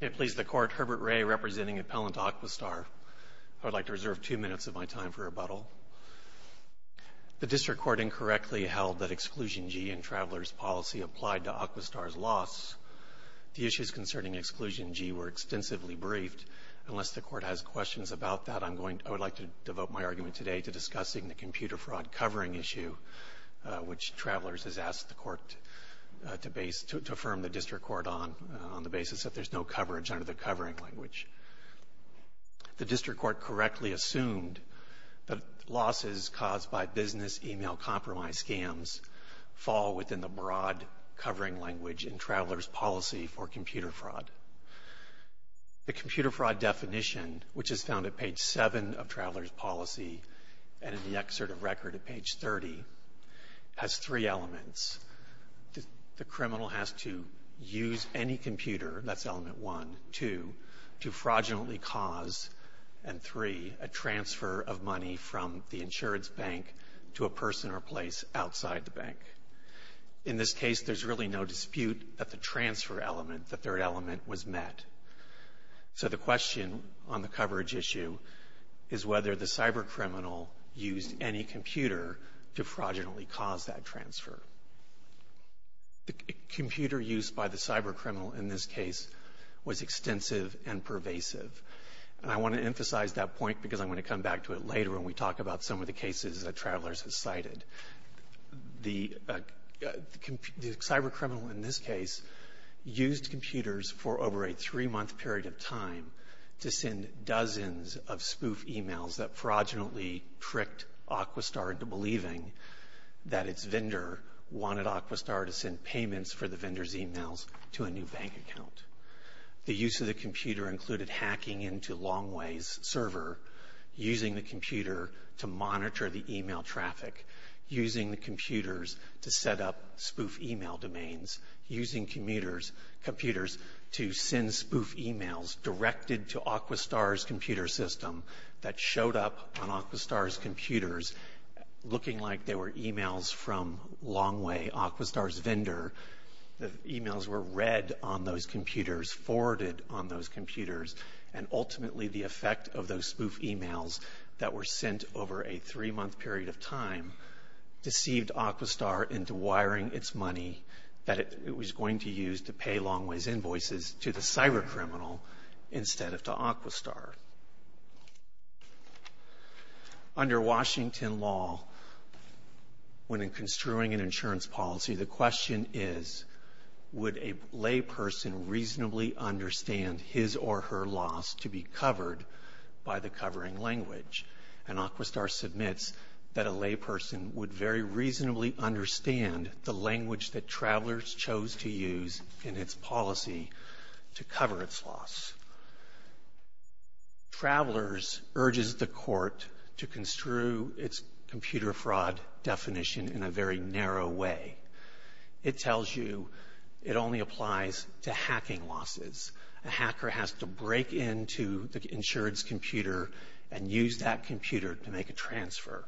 It pleases the Court, Herbert Ray representing Appellant Aquistar. I would like to reserve two minutes of my time for rebuttal. The District Court incorrectly held that Exclusion G in Travelers' policy applied to Aquistar's loss. The issues concerning Exclusion G were extensively briefed. Unless the Court has questions about that, I would like to devote my argument today to discussing the computer fraud covering issue, which Travelers has asked the Court to affirm the District Court on, on the basis that there's no coverage under the covering language. The District Court correctly assumed that losses caused by business email compromise scams fall within the broad covering language in Travelers' policy for computer fraud. The computer fraud definition, which is found at page 7 of Travelers' policy and in the excerpt of record at page 30, has three elements. The criminal has to use any computer, that's element 1, 2, to fraudulently cause, and 3, a transfer of money from the insurance bank to a person or place outside the bank. In this case, there's really no dispute that the transfer element, the third element, was met. So the question on the coverage issue is whether the cybercriminal used any computer to fraudulently cause that transfer. The computer use by the cybercriminal in this case was extensive and pervasive. And I want to emphasize that point because I'm going to come back to it later when we talk about some of the cases that Travelers has cited. The cybercriminal in this case used computers for over a three-month period of time to send dozens of spoof emails that fraudulently tricked Aquastar into believing that its vendor wanted Aquastar to send payments for the vendor's emails to a new bank account. The use of the computer included hacking into Longway's server, using the computer to monitor the email traffic, using the computers to set up spoof email domains, using computers to send spoof emails directed to Aquastar's computer system that showed up on Aquastar's computers looking like they were emails from Longway, Aquastar's vendor. The emails were read on those computers, forwarded on those computers, and ultimately the effect of those spoof emails that were sent over a three-month period of time deceived Aquastar into wiring its money that it was going to use to pay Longway's invoices to the cybercriminal instead of to Aquastar. Under Washington law, when construing an insurance policy, the question is, would a layperson reasonably understand his or her loss to be covered by the covering language? And Aquastar submits that a layperson would very reasonably understand the language that Travelers chose to use in its policy to cover its loss. Travelers urges the court to construe its computer fraud definition in a very narrow way. It tells you it only applies to hacking losses. A hacker has to break into the insurance computer and use that computer to make a transfer.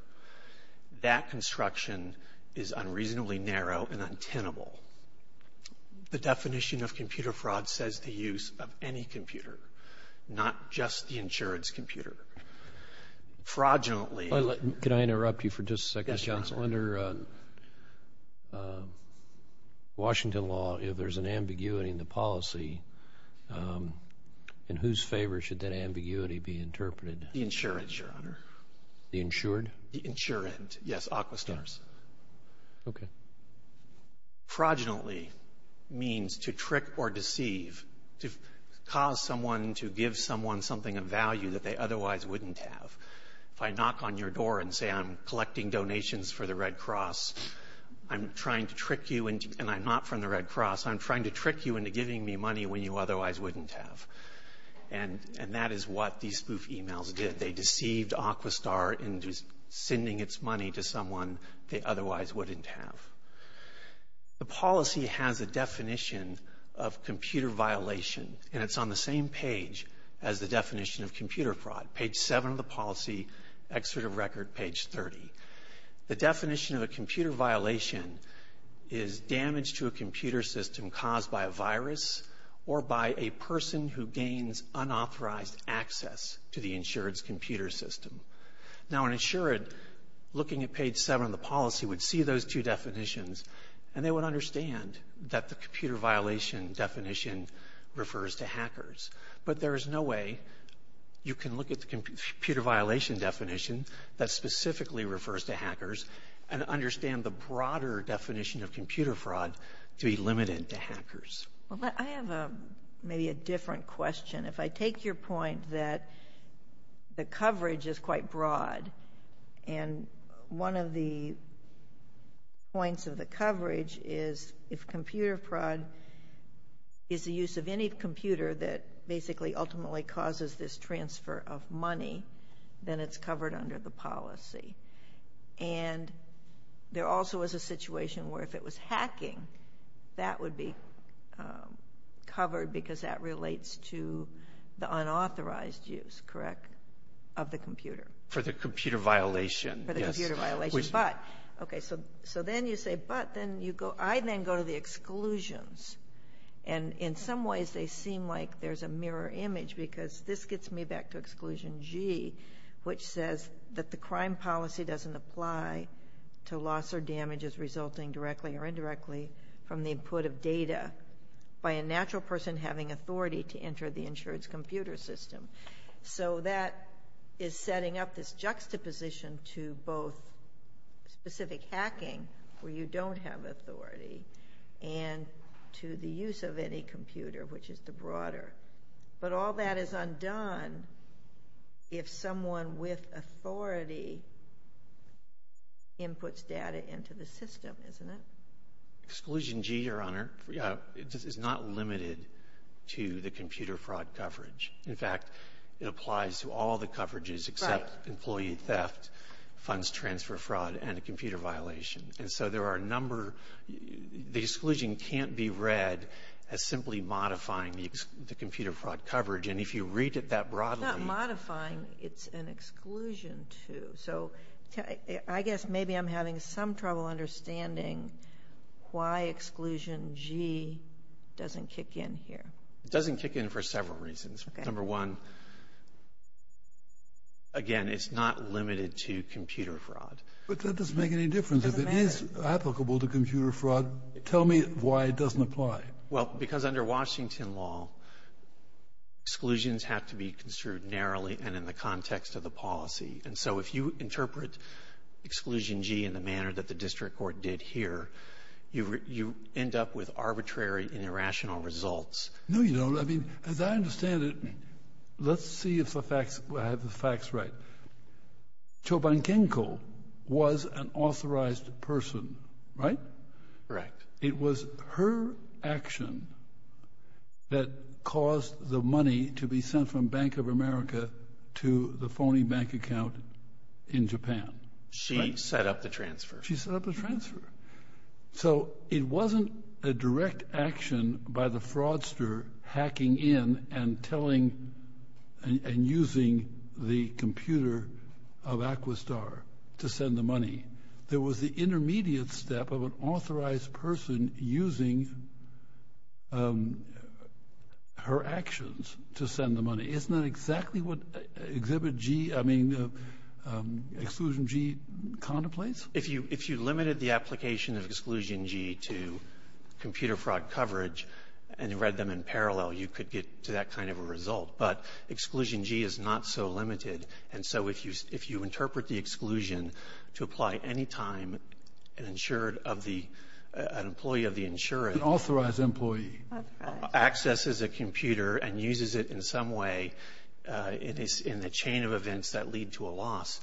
That construction is unreasonably narrow and untenable. The definition of computer fraud says the use of any computer, not just the insurance computer. Fraudulently— Can I interrupt you for just a second, counsel? Yes, Your Honor. Under Washington law, if there's an ambiguity in the policy, in whose favor should that ambiguity be interpreted? The insured, Your Honor. The insured? The insured, yes, Aquastar's. Okay. Fraudulently means to trick or deceive, to cause someone to give someone something of value that they otherwise wouldn't have. If I knock on your door and say I'm collecting donations for the Red Cross, I'm trying to trick you—and I'm not from the Red Cross— I'm trying to trick you into giving me money when you otherwise wouldn't have. And that is what these spoof emails did. They deceived Aquastar into sending its money to someone they otherwise wouldn't have. The policy has a definition of computer violation, and it's on the same page as the definition of computer fraud, page 7 of the policy, excerpt of record, page 30. The definition of a computer violation is damage to a computer system caused by a virus or by a person who gains unauthorized access to the insured's computer system. Now, an insured, looking at page 7 of the policy, would see those two definitions, and they would understand that the computer violation definition refers to hackers. But there is no way you can look at the computer violation definition that specifically refers to hackers and understand the broader definition of computer fraud to be limited to hackers. Well, I have maybe a different question. If I take your point that the coverage is quite broad, and one of the points of the coverage is if computer fraud is the use of any computer that basically ultimately causes this transfer of money, then it's covered under the policy. And there also is a situation where if it was hacking, that would be covered because that relates to the unauthorized use, correct, of the computer. For the computer violation. For the computer violation. But, okay, so then you say, but then you go, I then go to the exclusions. And in some ways they seem like there's a mirror image because this gets me back to exclusion G, which says that the crime policy doesn't apply to loss or damages resulting directly or indirectly from the input of data by a natural person having authority to enter the insurance computer system. So that is setting up this juxtaposition to both specific hacking, where you don't have authority, and to the use of any computer, which is the broader. But all that is undone if someone with authority inputs data into the system, isn't it? Exclusion G, Your Honor, is not limited to the computer fraud coverage. In fact, it applies to all the coverages except employee theft, funds transfer fraud, and a computer violation. And so there are a number, the exclusion can't be read as simply modifying the computer fraud coverage. And if you read it that broadly. It's not modifying. It's an exclusion to. So I guess maybe I'm having some trouble understanding why exclusion G doesn't kick in here. It doesn't kick in for several reasons. Okay. Number one, again, it's not limited to computer fraud. But that doesn't make any difference. It doesn't matter. If it is applicable to computer fraud, tell me why it doesn't apply. Well, because under Washington law, exclusions have to be construed narrowly and in the context of the policy. And so if you interpret exclusion G in the manner that the district court did here, you end up with arbitrary and irrational results. No, you don't. As I understand it, let's see if I have the facts right. Chobankenko was an authorized person, right? Correct. It was her action that caused the money to be sent from Bank of America to the phony bank account in Japan. She set up the transfer. She set up the transfer. So it wasn't a direct action by the fraudster hacking in and telling and using the computer of Aquastar to send the money. There was the intermediate step of an authorized person using her actions to send the money. Isn't that exactly what Exhibit G, I mean, exclusion G contemplates? If you limited the application of exclusion G to computer fraud coverage and read them in parallel, you could get to that kind of a result. But exclusion G is not so limited. And so if you interpret the exclusion to apply any time an insured of the employee of the insured. An authorized employee. Accesses a computer and uses it in some way in the chain of events that lead to a loss,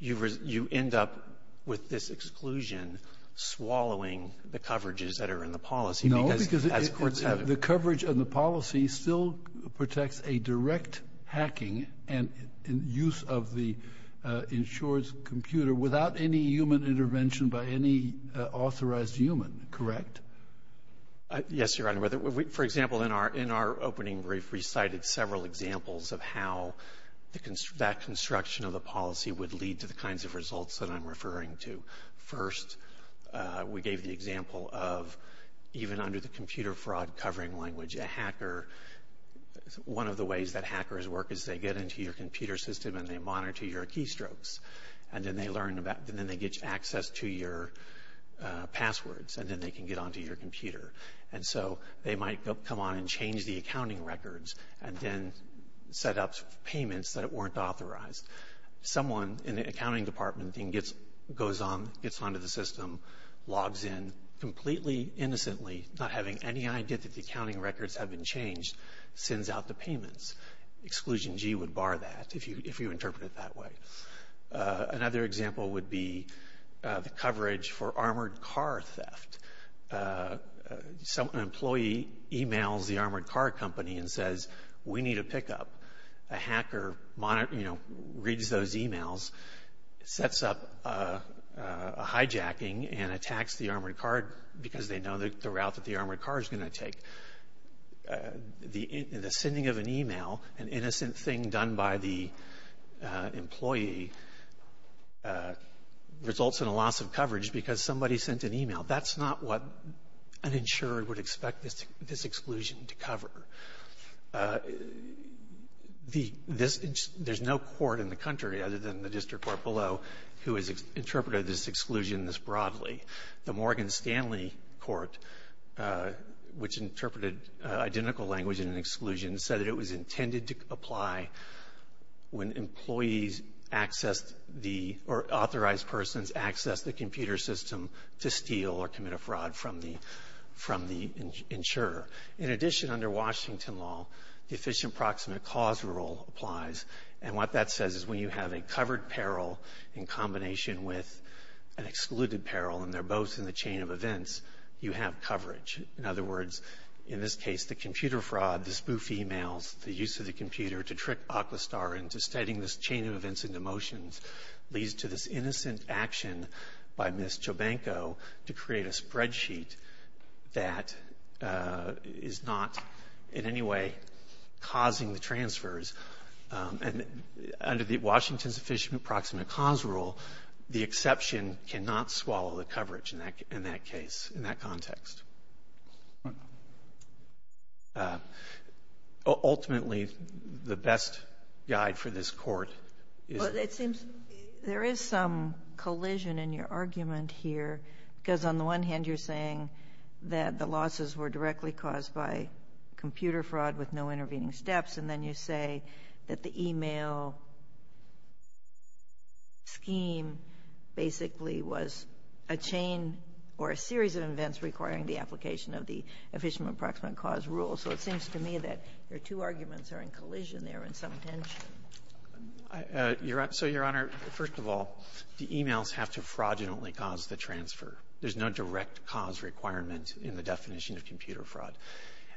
you end up with this exclusion swallowing the coverages that are in the policy. No, because the coverage of the policy still protects a direct hacking and use of the insured's computer without any human intervention by any authorized human. Correct? Yes, Your Honor. For example, in our opening brief, we cited several examples of how that construction of the policy would lead to the kinds of results that I'm referring to. First, we gave the example of even under the computer fraud covering language, a hacker, one of the ways that hackers work is they get into your computer system and they monitor your keystrokes. And then they get access to your passwords. And then they can get onto your computer. And so they might come on and change the accounting records and then set up payments that weren't authorized. Someone in the accounting department then goes on, gets onto the system, logs in completely innocently, not having any idea that the accounting records have been changed, sends out the payments. Exclusion G would bar that if you interpret it that way. Another example would be the coverage for armored car theft. An employee emails the armored car company and says, we need a pickup. A hacker reads those emails, sets up a hijacking, and attacks the armored car because they know the route that the armored car is going to take. The sending of an email, an innocent thing done by the employee, results in a loss of coverage because somebody sent an email. That's not what an insurer would expect this exclusion to cover. There's no court in the country other than the district court below who has interpreted this exclusion this broadly. The Morgan Stanley Court, which interpreted identical language in an exclusion, said that it was intended to apply when authorized persons access the computer system to steal or commit a fraud from the insurer. In addition, under Washington law, the efficient proximate cause rule applies. What that says is when you have a covered peril in combination with an excluded peril, and they're both in the chain of events, you have coverage. In other words, in this case, the computer fraud, the spoof emails, the use of the computer to trick AquaStar into studying this chain of events and emotions leads to this innocent action by Ms. Jobanko to create a spreadsheet that is not in any way causing the transfers. And under the Washington's efficient proximate cause rule, the exception cannot swallow the coverage in that case, in that context. Ultimately, the best guide for this Court is the ---- that the losses were directly caused by computer fraud with no intervening steps, and then you say that the email scheme basically was a chain or a series of events requiring the application of the efficient proximate cause rule. So it seems to me that your two arguments are in collision there in some tension. So, Your Honor, first of all, the emails have to fraudulently cause the transfer. There's no direct cause requirement in the definition of computer fraud.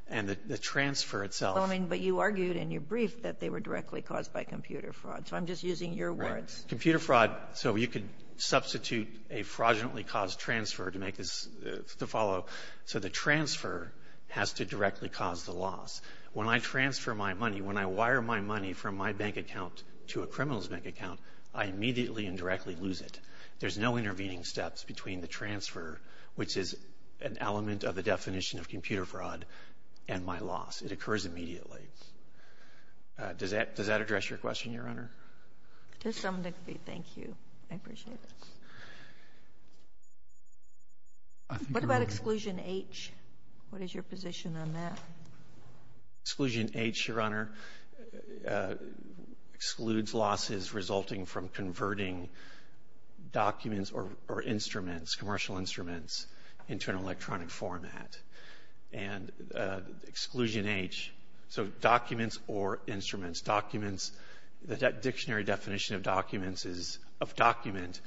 And the transfer itself ---- Sotomayor, but you argued in your brief that they were directly caused by computer fraud. So I'm just using your words. Right. Computer fraud, so you could substitute a fraudulently caused transfer to make this to follow. So the transfer has to directly cause the loss. When I transfer my money, when I wire my money from my bank account to a criminal's bank account, I immediately and directly lose it. There's no intervening steps between the transfer, which is an element of the definition of computer fraud, and my loss. It occurs immediately. Does that address your question, Your Honor? To some degree. Thank you. I appreciate it. What about exclusion H? What is your position on that? Exclusion H, Your Honor, excludes losses resulting from converting documents or instruments, commercial instruments, into an electronic format. And exclusion H, so documents or instruments. Documents, the dictionary definition of documents is ---- of document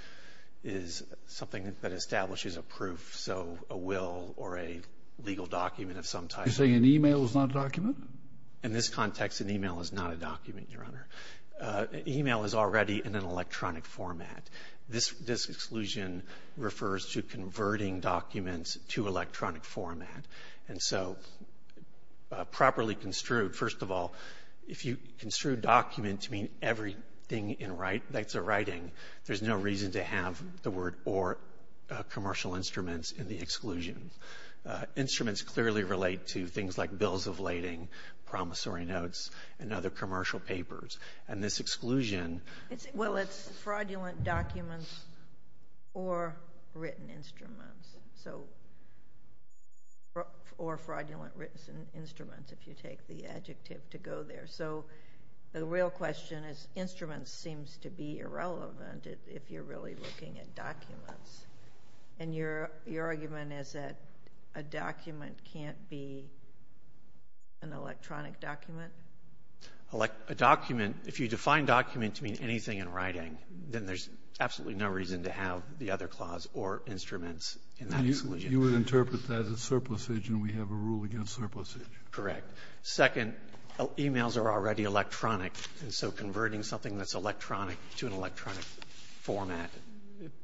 is something that establishes a proof, so a will or a legal document of some type. You're saying an e-mail is not a document? In this context, an e-mail is not a document, Your Honor. An e-mail is already in an electronic format. This exclusion refers to converting documents to electronic format. And so properly construed, first of all, if you construed document to mean everything in writing, there's no reason to have the word or commercial instruments in the exclusion. Instruments clearly relate to things like bills of lading, promissory notes, and other commercial papers. And this exclusion ---- Well, it's fraudulent documents or written instruments, so ---- or fraudulent written instruments, if you take the adjective to go there. So the real question is instruments seems to be irrelevant if you're really looking at documents. And your argument is that a document can't be an electronic document? A document, if you define document to mean anything in writing, then there's absolutely no reason to have the other clause or instruments in that exclusion. You would interpret that as surplusage, and we have a rule against surplusage. Correct. Second, e-mails are already electronic, and so converting something that's electronic to an electronic format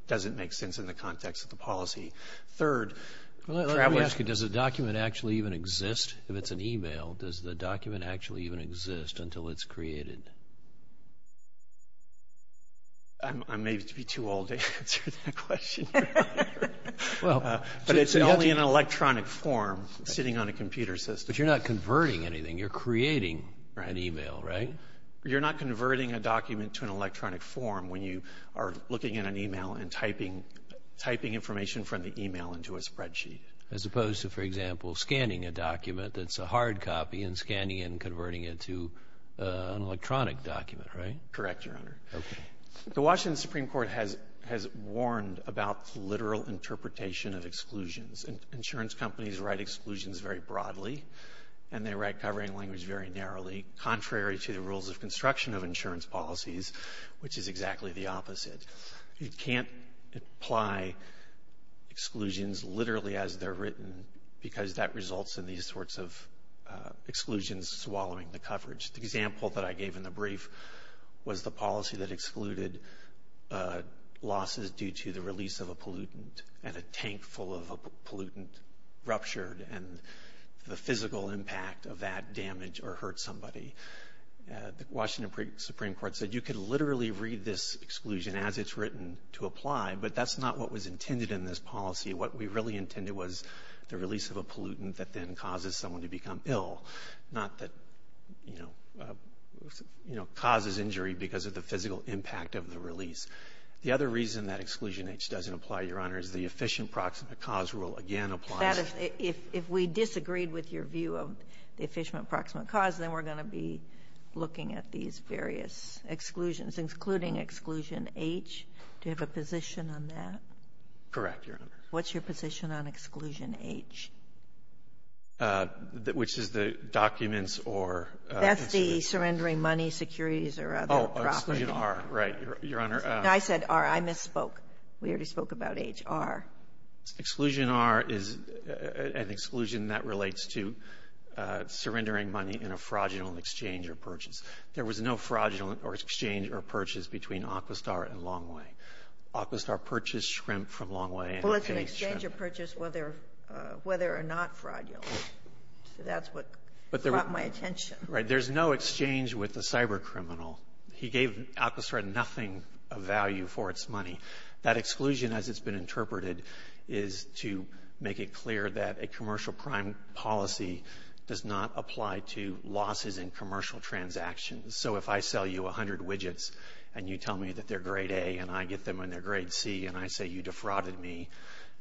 doesn't make sense in the context of the policy. Third ---- Let me ask you, does a document actually even exist if it's an e-mail? Does the document actually even exist until it's created? I may be too old to answer that question. But it's only an electronic form sitting on a computer system. But you're not converting anything. You're creating an e-mail, right? You're not converting a document to an electronic form when you are looking at an e-mail and typing information from the e-mail into a spreadsheet. As opposed to, for example, scanning a document that's a hard copy and scanning and converting it to an electronic document, right? Correct, Your Honor. Okay. The Washington Supreme Court has warned about literal interpretation of exclusions. Insurance companies write exclusions very broadly, and they write covering language very narrowly, contrary to the rules of construction of insurance policies, which is exactly the opposite. You can't apply exclusions literally as they're written because that results in these sorts of exclusions swallowing the coverage. The example that I gave in the brief was the policy that excluded losses due to the release of a pollutant and a tank full of a pollutant ruptured. And the physical impact of that damage or hurt somebody, the Washington Supreme Court said you could literally read this exclusion as it's written to apply, but that's not what was intended in this policy. What we really intended was the release of a pollutant that then causes someone to become ill, not that, you know, causes injury because of the physical impact of the release. The other reason that Exclusion H doesn't apply, Your Honor, is the efficient proximate cause rule again applies. Sotomayor, if we disagreed with your view of the efficient proximate cause, then we're going to be looking at these various exclusions, including Exclusion H. Do you have a position on that? Correct, Your Honor. What's your position on Exclusion H? Which is the documents or the consumer. That's the surrendering money, securities, or other property. Oh, Exclusion R, right, Your Honor. I said R. I misspoke. We already spoke about H. R. Exclusion R is an exclusion that relates to surrendering money in a fraudulent exchange or purchase. There was no fraudulent exchange or purchase between Aquistar and Longway. Aquistar purchased shrimp from Longway. Well, it's an exchange or purchase whether or not fraudulent. So that's what caught my attention. Right. There's no exchange with a cybercriminal. He gave Aquistar nothing of value for its money. That exclusion, as it's been interpreted, is to make it clear that a commercial crime policy does not apply to losses in commercial transactions. So if I sell you 100 widgets and you tell me that they're grade A and I get them when they're grade C and I say you defrauded me,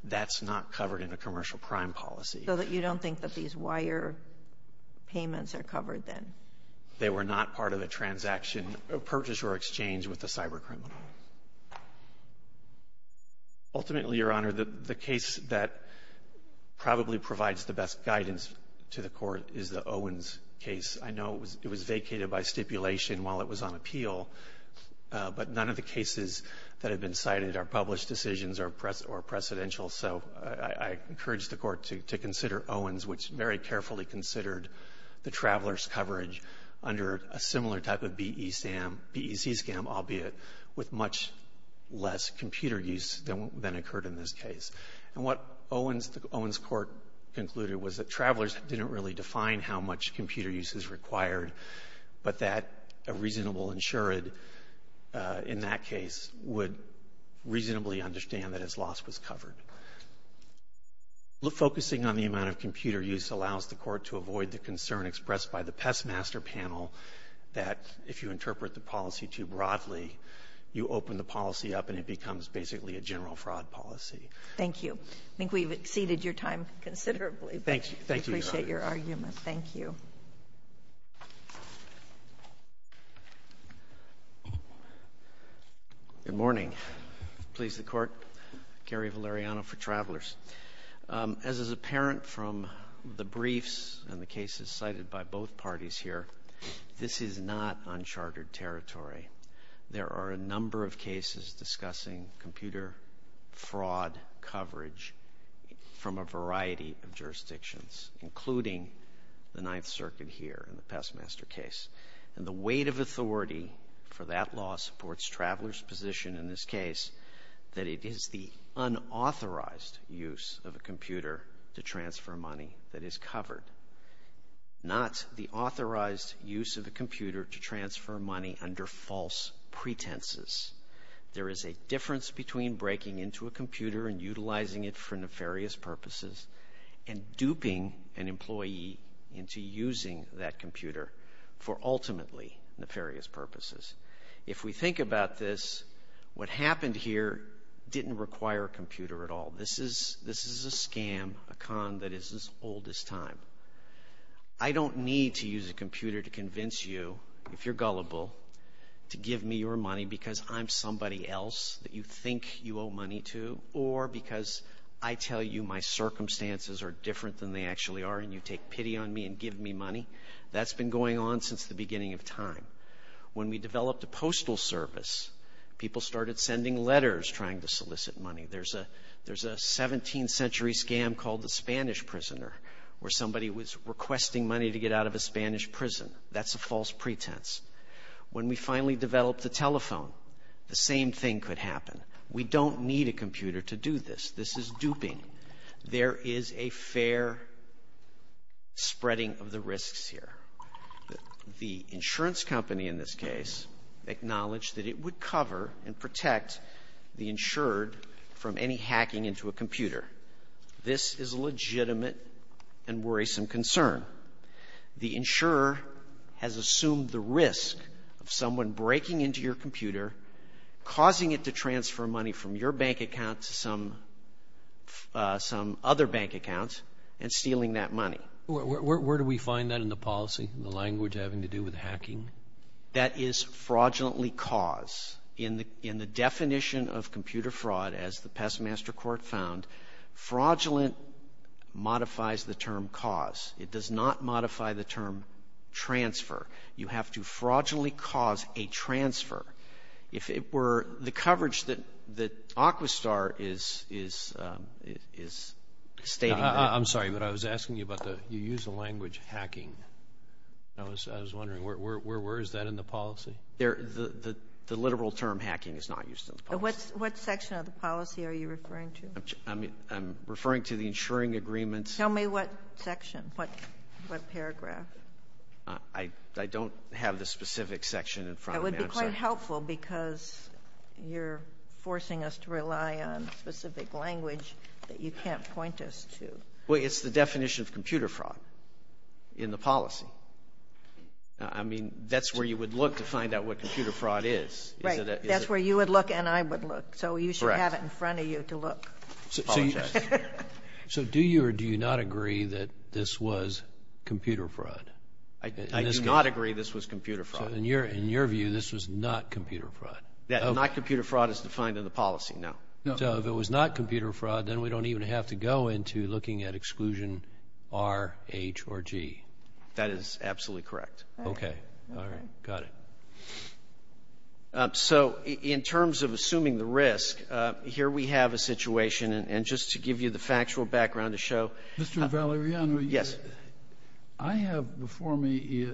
that's not covered in a commercial crime policy. So that you don't think that these wire payments are covered then? They were not part of a transaction, a purchase or exchange with a cybercriminal. Ultimately, Your Honor, the case that probably provides the best guidance to the Court is the Owens case. I know it was vacated by stipulation while it was on appeal, but none of the cases that have been cited are published decisions or precedential. So I encourage the Court to consider Owens, which very carefully considered the traveler's coverage under a similar type of BEC scam, albeit with much less computer use than occurred in this case. And what Owens Court concluded was that travelers didn't really define how much computer use is required, but that a reasonable insured in that case would reasonably understand that its loss was covered. Focusing on the amount of computer use allows the Court to avoid the concern expressed by the Pestmaster panel that if you interpret the policy too broadly, you open the policy up and it becomes basically a general fraud policy. Thank you. I think we've exceeded your time considerably. Thank you. Thank you, Your Honor. I appreciate your argument. Thank you. Good morning. Please, the Court. Gary Valeriano for Travelers. As is apparent from the briefs and the cases cited by both parties here, this is not uncharted territory. There are a number of cases discussing computer fraud coverage from a variety of jurisdictions, including the Ninth Circuit here in the Pestmaster case. And the weight of authority for that law supports travelers' position in this case that it is the unauthorized use of a computer to transfer money that is covered, not the authorized use of a computer to transfer money under false pretenses. There is a difference between breaking into a computer and utilizing it for and duping an employee into using that computer for ultimately nefarious purposes. If we think about this, what happened here didn't require a computer at all. This is a scam, a con that is as old as time. I don't need to use a computer to convince you, if you're gullible, to give me your money because I'm somebody else that you think you owe money to or because I tell you my circumstances are different than they actually are and you take pity on me and give me money. That's been going on since the beginning of time. When we developed a postal service, people started sending letters trying to solicit money. There's a 17th century scam called the Spanish prisoner where somebody was requesting money to get out of a Spanish prison. That's a false pretense. When we finally developed the telephone, the same thing could happen. We don't need a computer to do this. This is duping. There is a fair spreading of the risks here. The insurance company in this case acknowledged that it would cover and protect the insured from any hacking into a computer. This is a legitimate and worrisome concern. The insurer has assumed the risk of someone breaking into your computer, causing it to transfer money from your bank account to some other bank account and stealing that money. Where do we find that in the policy, the language having to do with hacking? That is fraudulently caused. In the definition of computer fraud, as the Pestmaster Court found, fraudulent modifies the term cause. It does not modify the term transfer. You have to fraudulently cause a transfer. If it were the coverage that Aquistar is stating that ---- I'm sorry, but I was asking you about the you use the language hacking. I was wondering where is that in the policy? The literal term hacking is not used in the policy. What section of the policy are you referring to? I'm referring to the insuring agreements. Tell me what section, what paragraph. I don't have the specific section in front of me. That would be quite helpful, because you're forcing us to rely on specific language that you can't point us to. Well, it's the definition of computer fraud in the policy. I mean, that's where you would look to find out what computer fraud is. Right. That's where you would look and I would look. Correct. So you should have it in front of you to look. I apologize. So do you or do you not agree that this was computer fraud? I do not agree this was computer fraud. So in your view, this was not computer fraud? Not computer fraud is defined in the policy, no. So if it was not computer fraud, then we don't even have to go into looking at exclusion R, H, or G. That is absolutely correct. Okay. All right. Got it. So in terms of assuming the risk, here we have a situation, and just to give you the factual background to show. Mr. Valeriano. Yes. I have before me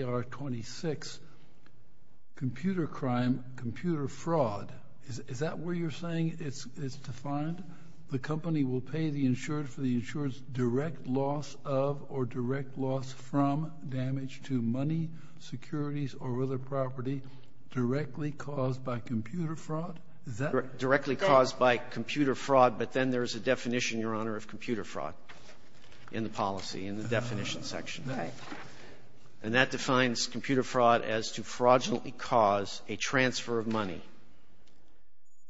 ER 26, computer crime, computer fraud. Is that where you're saying it's defined? The company will pay the insured for the insured's direct loss of or direct loss from damage to money, securities, or other property directly caused by computer fraud? Directly caused by computer fraud, but then there is a definition, Your Honor, of computer fraud in the policy, in the definition section. Right. And that defines computer fraud as to fraudulently cause a transfer of money.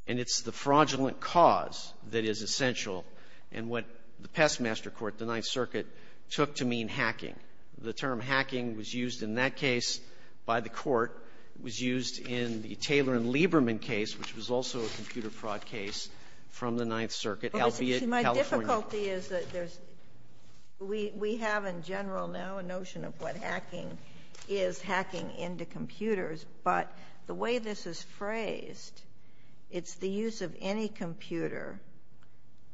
And it's the fraudulent cause that is essential in what the past master court, the Ninth Circuit, took to mean hacking. The term hacking was used in that case by the Court. It was used in the Taylor and Lieberman case, which was also a computer fraud case from the Ninth Circuit, albeit California. My difficulty is that there's we have in general now a notion of what hacking is, hacking into computers. But the way this is phrased, it's the use of any computer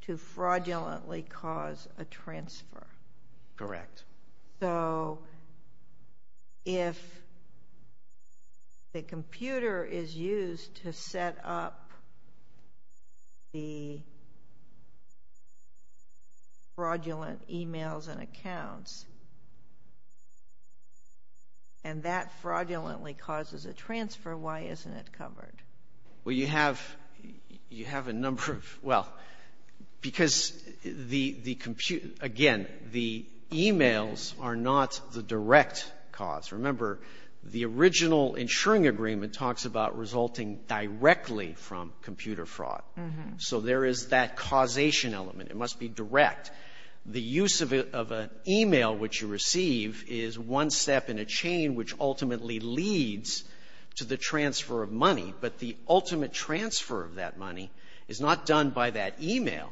to fraudulently cause a transfer. Correct. So if the computer is used to set up the fraudulent emails and accounts, and that fraudulently causes a transfer, why isn't it covered? Well, you have a number of, well, because the computer, again, the emails are not the direct cause. Remember, the original insuring agreement talks about resulting directly from computer fraud. So there is that causation element. It must be direct. The use of an email which you receive is one step in a chain which ultimately leads to the transfer of money. But the ultimate transfer of that money is not done by that email.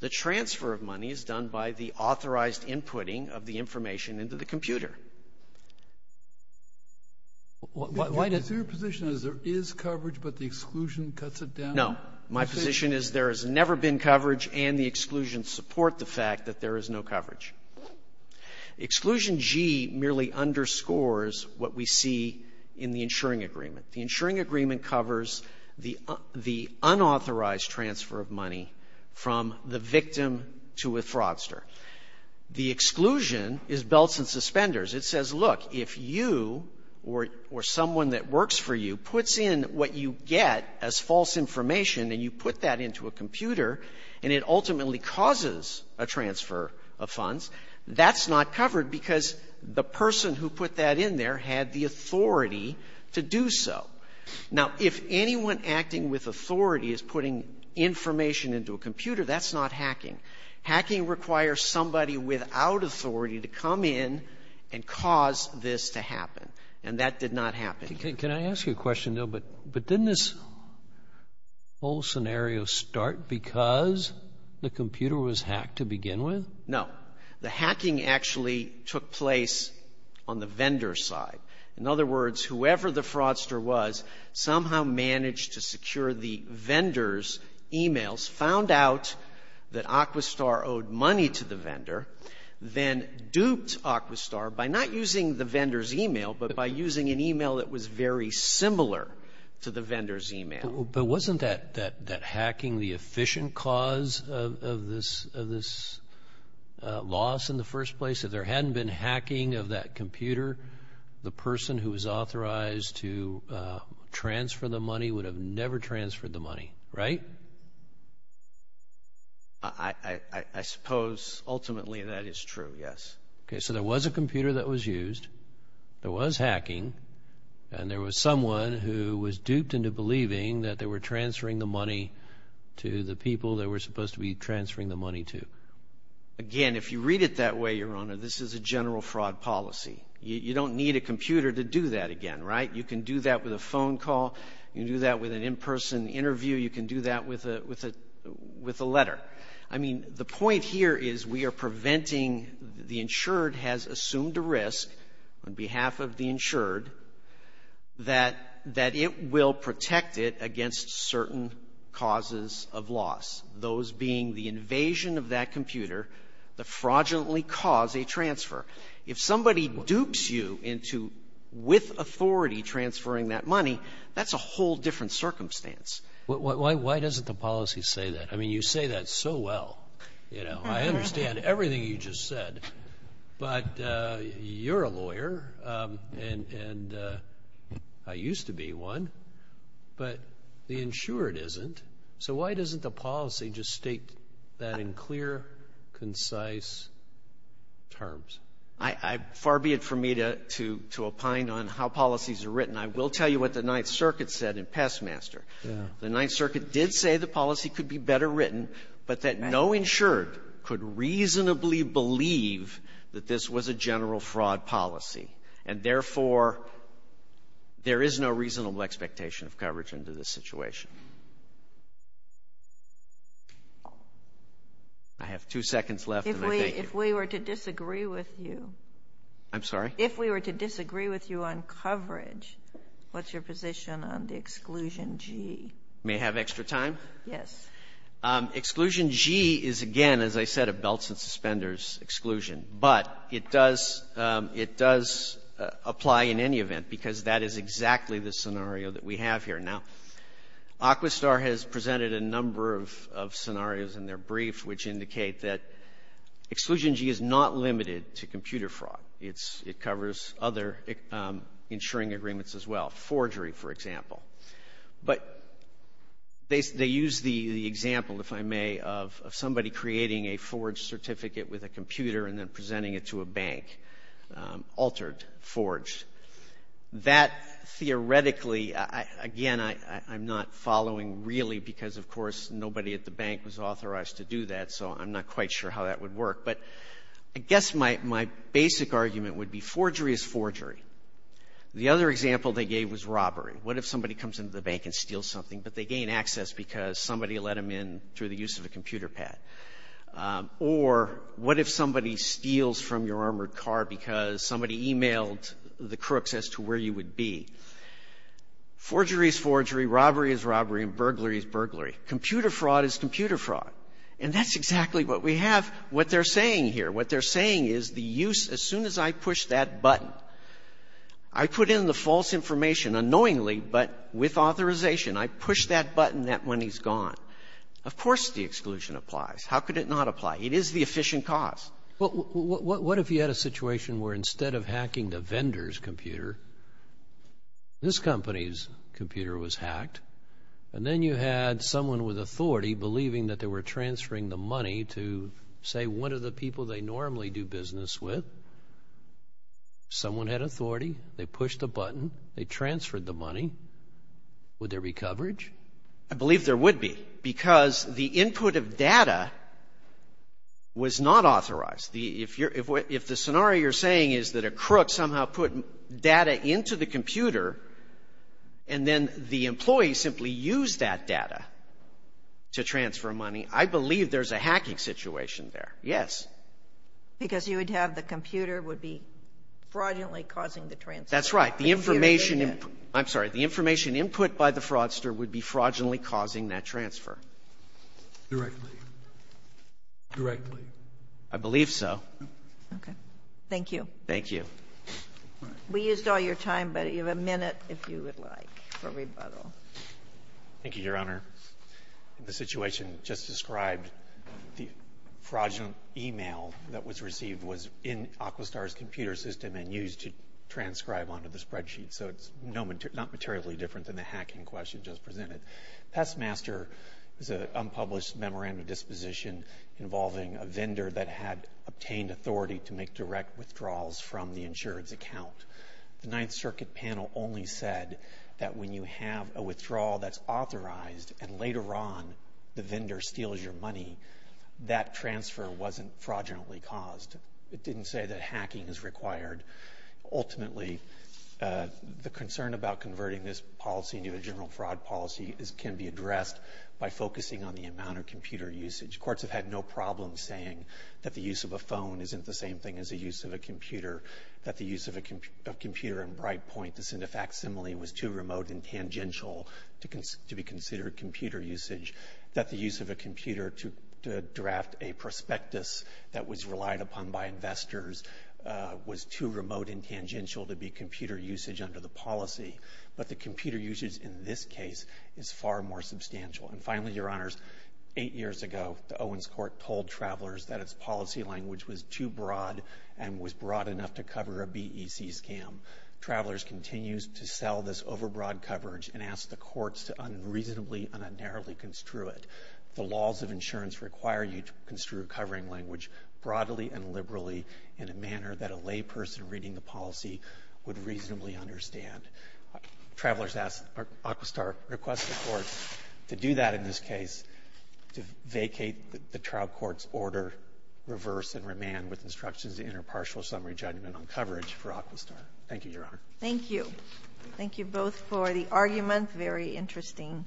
The transfer of money is done by the authorized inputting of the information into the computer. Why does the ---- Your position is there is coverage, but the exclusion cuts it down. No. My position is there has never been coverage, and the exclusions support the fact that there is no coverage. Exclusion G merely underscores what we see in the insuring agreement. The insuring agreement covers the unauthorized transfer of money from the victim to a fraudster. The exclusion is belts and suspenders. It says, look, if you or someone that works for you puts in what you get as false information and you put that into a computer and it ultimately causes a transfer of funds, that's not covered because the person who put that in there had the authority to do so. Now, if anyone acting with authority is putting information into a computer, that's not hacking. Hacking requires somebody without authority to come in and cause this to happen, and that did not happen. Can I ask you a question, though? But didn't this whole scenario start because the computer was hacked to begin with? No. The hacking actually took place on the vendor's side. In other words, whoever the fraudster was somehow managed to secure the vendor's e-mails, found out that Aquistar owed money to the vendor, then duped Aquistar by not using the vendor's e-mail, but by using an e-mail that was very similar to the vendor's e-mail. But wasn't that hacking the efficient cause of this loss in the first place? If there was a person who was authorized to transfer the money, would have never transferred the money, right? I suppose ultimately that is true, yes. Okay, so there was a computer that was used, there was hacking, and there was someone who was duped into believing that they were transferring the money to the people they were supposed to be transferring the money to. Again, if you read it that way, Your Honor, this is a general fraud policy. You don't need a computer to do that again, right? You can do that with a phone call, you can do that with an in-person interview, you can do that with a letter. I mean, the point here is we are preventing the insured has assumed a risk on behalf of the insured that it will protect it against certain causes of loss, those being the invasion of that computer, the fraudulently cause, a transfer. If somebody dupes you into with authority transferring that money, that's a whole different circumstance. Why doesn't the policy say that? I mean, you say that so well, you know. I understand everything you just said. But you're a lawyer, and I used to be one, but the insured isn't. So why doesn't the policy just state that in clear, concise terms? Far be it for me to opine on how policies are written. I will tell you what the Ninth Circuit said in Pestmaster. The Ninth Circuit did say the policy could be better written, but that no insured could reasonably believe that this was a general fraud policy. And therefore, there is no reasonable expectation of coverage under this situation. I have two seconds left, and I thank you. If we were to disagree with you on coverage, what's your position on the Exclusion G? May I have extra time? Yes. Exclusion G is, again, as I said, a belts and suspenders exclusion. But it does apply in any event, because that is exactly the scenario that we have here. Now, Aquistar has presented a number of scenarios in their brief which indicate that Exclusion G is not limited to computer fraud. It covers other insuring agreements as well, forgery, for example. But they use the example, if I may, of somebody creating a forged certificate with a computer and then presenting it to a bank, altered, forged. That theoretically, again, I'm not following really, because, of course, nobody at the bank was authorized to do that, so I'm not quite sure how that would work. But I guess my basic argument would be forgery is forgery. The other example they gave was robbery. What if somebody comes into the bank and steals something, but they gain access because somebody let them in through the use of a computer pad? Or what if somebody steals from your armored car because somebody emailed the crooks as to where you would be? Forgery is forgery, robbery is robbery, and burglary is burglary. Computer fraud is computer fraud. And that's exactly what we have, what they're saying here. What they're saying is the use, as soon as I push that button, I put in the false information unknowingly, but with authorization. I push that button, that money's gone. Of course the exclusion applies. How could it not apply? It is the efficient cause. Well, what if you had a situation where instead of hacking the vendor's computer, this company's computer was hacked, and then you had someone with authority believing that they were transferring the money to, say, one of the people they normally do business with. Someone had authority, they pushed a button, they transferred the money. Would there be coverage? I believe there would be, because the input of data was not authorized. If the scenario you're saying is that a crook somehow put data into the computer, and then the employee simply used that data to transfer money, I believe there's a hacking situation there. Yes. Because you would have the computer would be fraudulently causing the transfer. That's right. It would be fraudulently causing that transfer. Directly. Directly. I believe so. Okay. Thank you. Thank you. We used all your time, but you have a minute, if you would like, for rebuttal. Thank you, Your Honor. The situation just described, the fraudulent email that was received was in Aquistar's computer system and used to transcribe onto the spreadsheet, so it's not materially different than the hacking question just presented. Pestmaster is an unpublished memorandum of disposition involving a vendor that had obtained authority to make direct withdrawals from the insurance account. The Ninth Circuit panel only said that when you have a withdrawal that's authorized, and later on the vendor steals your money, that transfer wasn't fraudulently caused. It didn't say that hacking is required. Ultimately, the concern about converting this policy into a general fraud policy can be addressed by focusing on the amount of computer usage. Courts have had no problem saying that the use of a phone isn't the same thing as the use of a computer, that the use of a computer in Brightpoint to send a facsimile was too remote and tangential to be considered computer usage, that the use of a computer to draft a prospectus that was relied upon by investors was too remote and tangential to be computer usage under the policy. But the computer usage in this case is far more substantial. And finally, Your Honors, eight years ago, the Owens Court told travelers that its policy language was too broad and was broad enough to cover a BEC scam. Travelers continues to sell this overbroad coverage and ask the courts to unreasonably and unerringly construe it. The laws of insurance require you to construe a covering language broadly and liberally in a manner that a layperson reading the policy would reasonably understand. Travelers ask or Aquistar requests the courts to do that in this case, to vacate the trial court's order, reverse and remand with instructions of interpartial summary judgment on coverage for Aquistar. Thank you, Your Honor. Thank you. Thank you both for the argument. Very interesting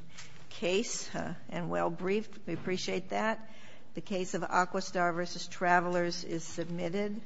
case and well-briefed. We appreciate that. The case of Aquistar v. Travelers is submitted.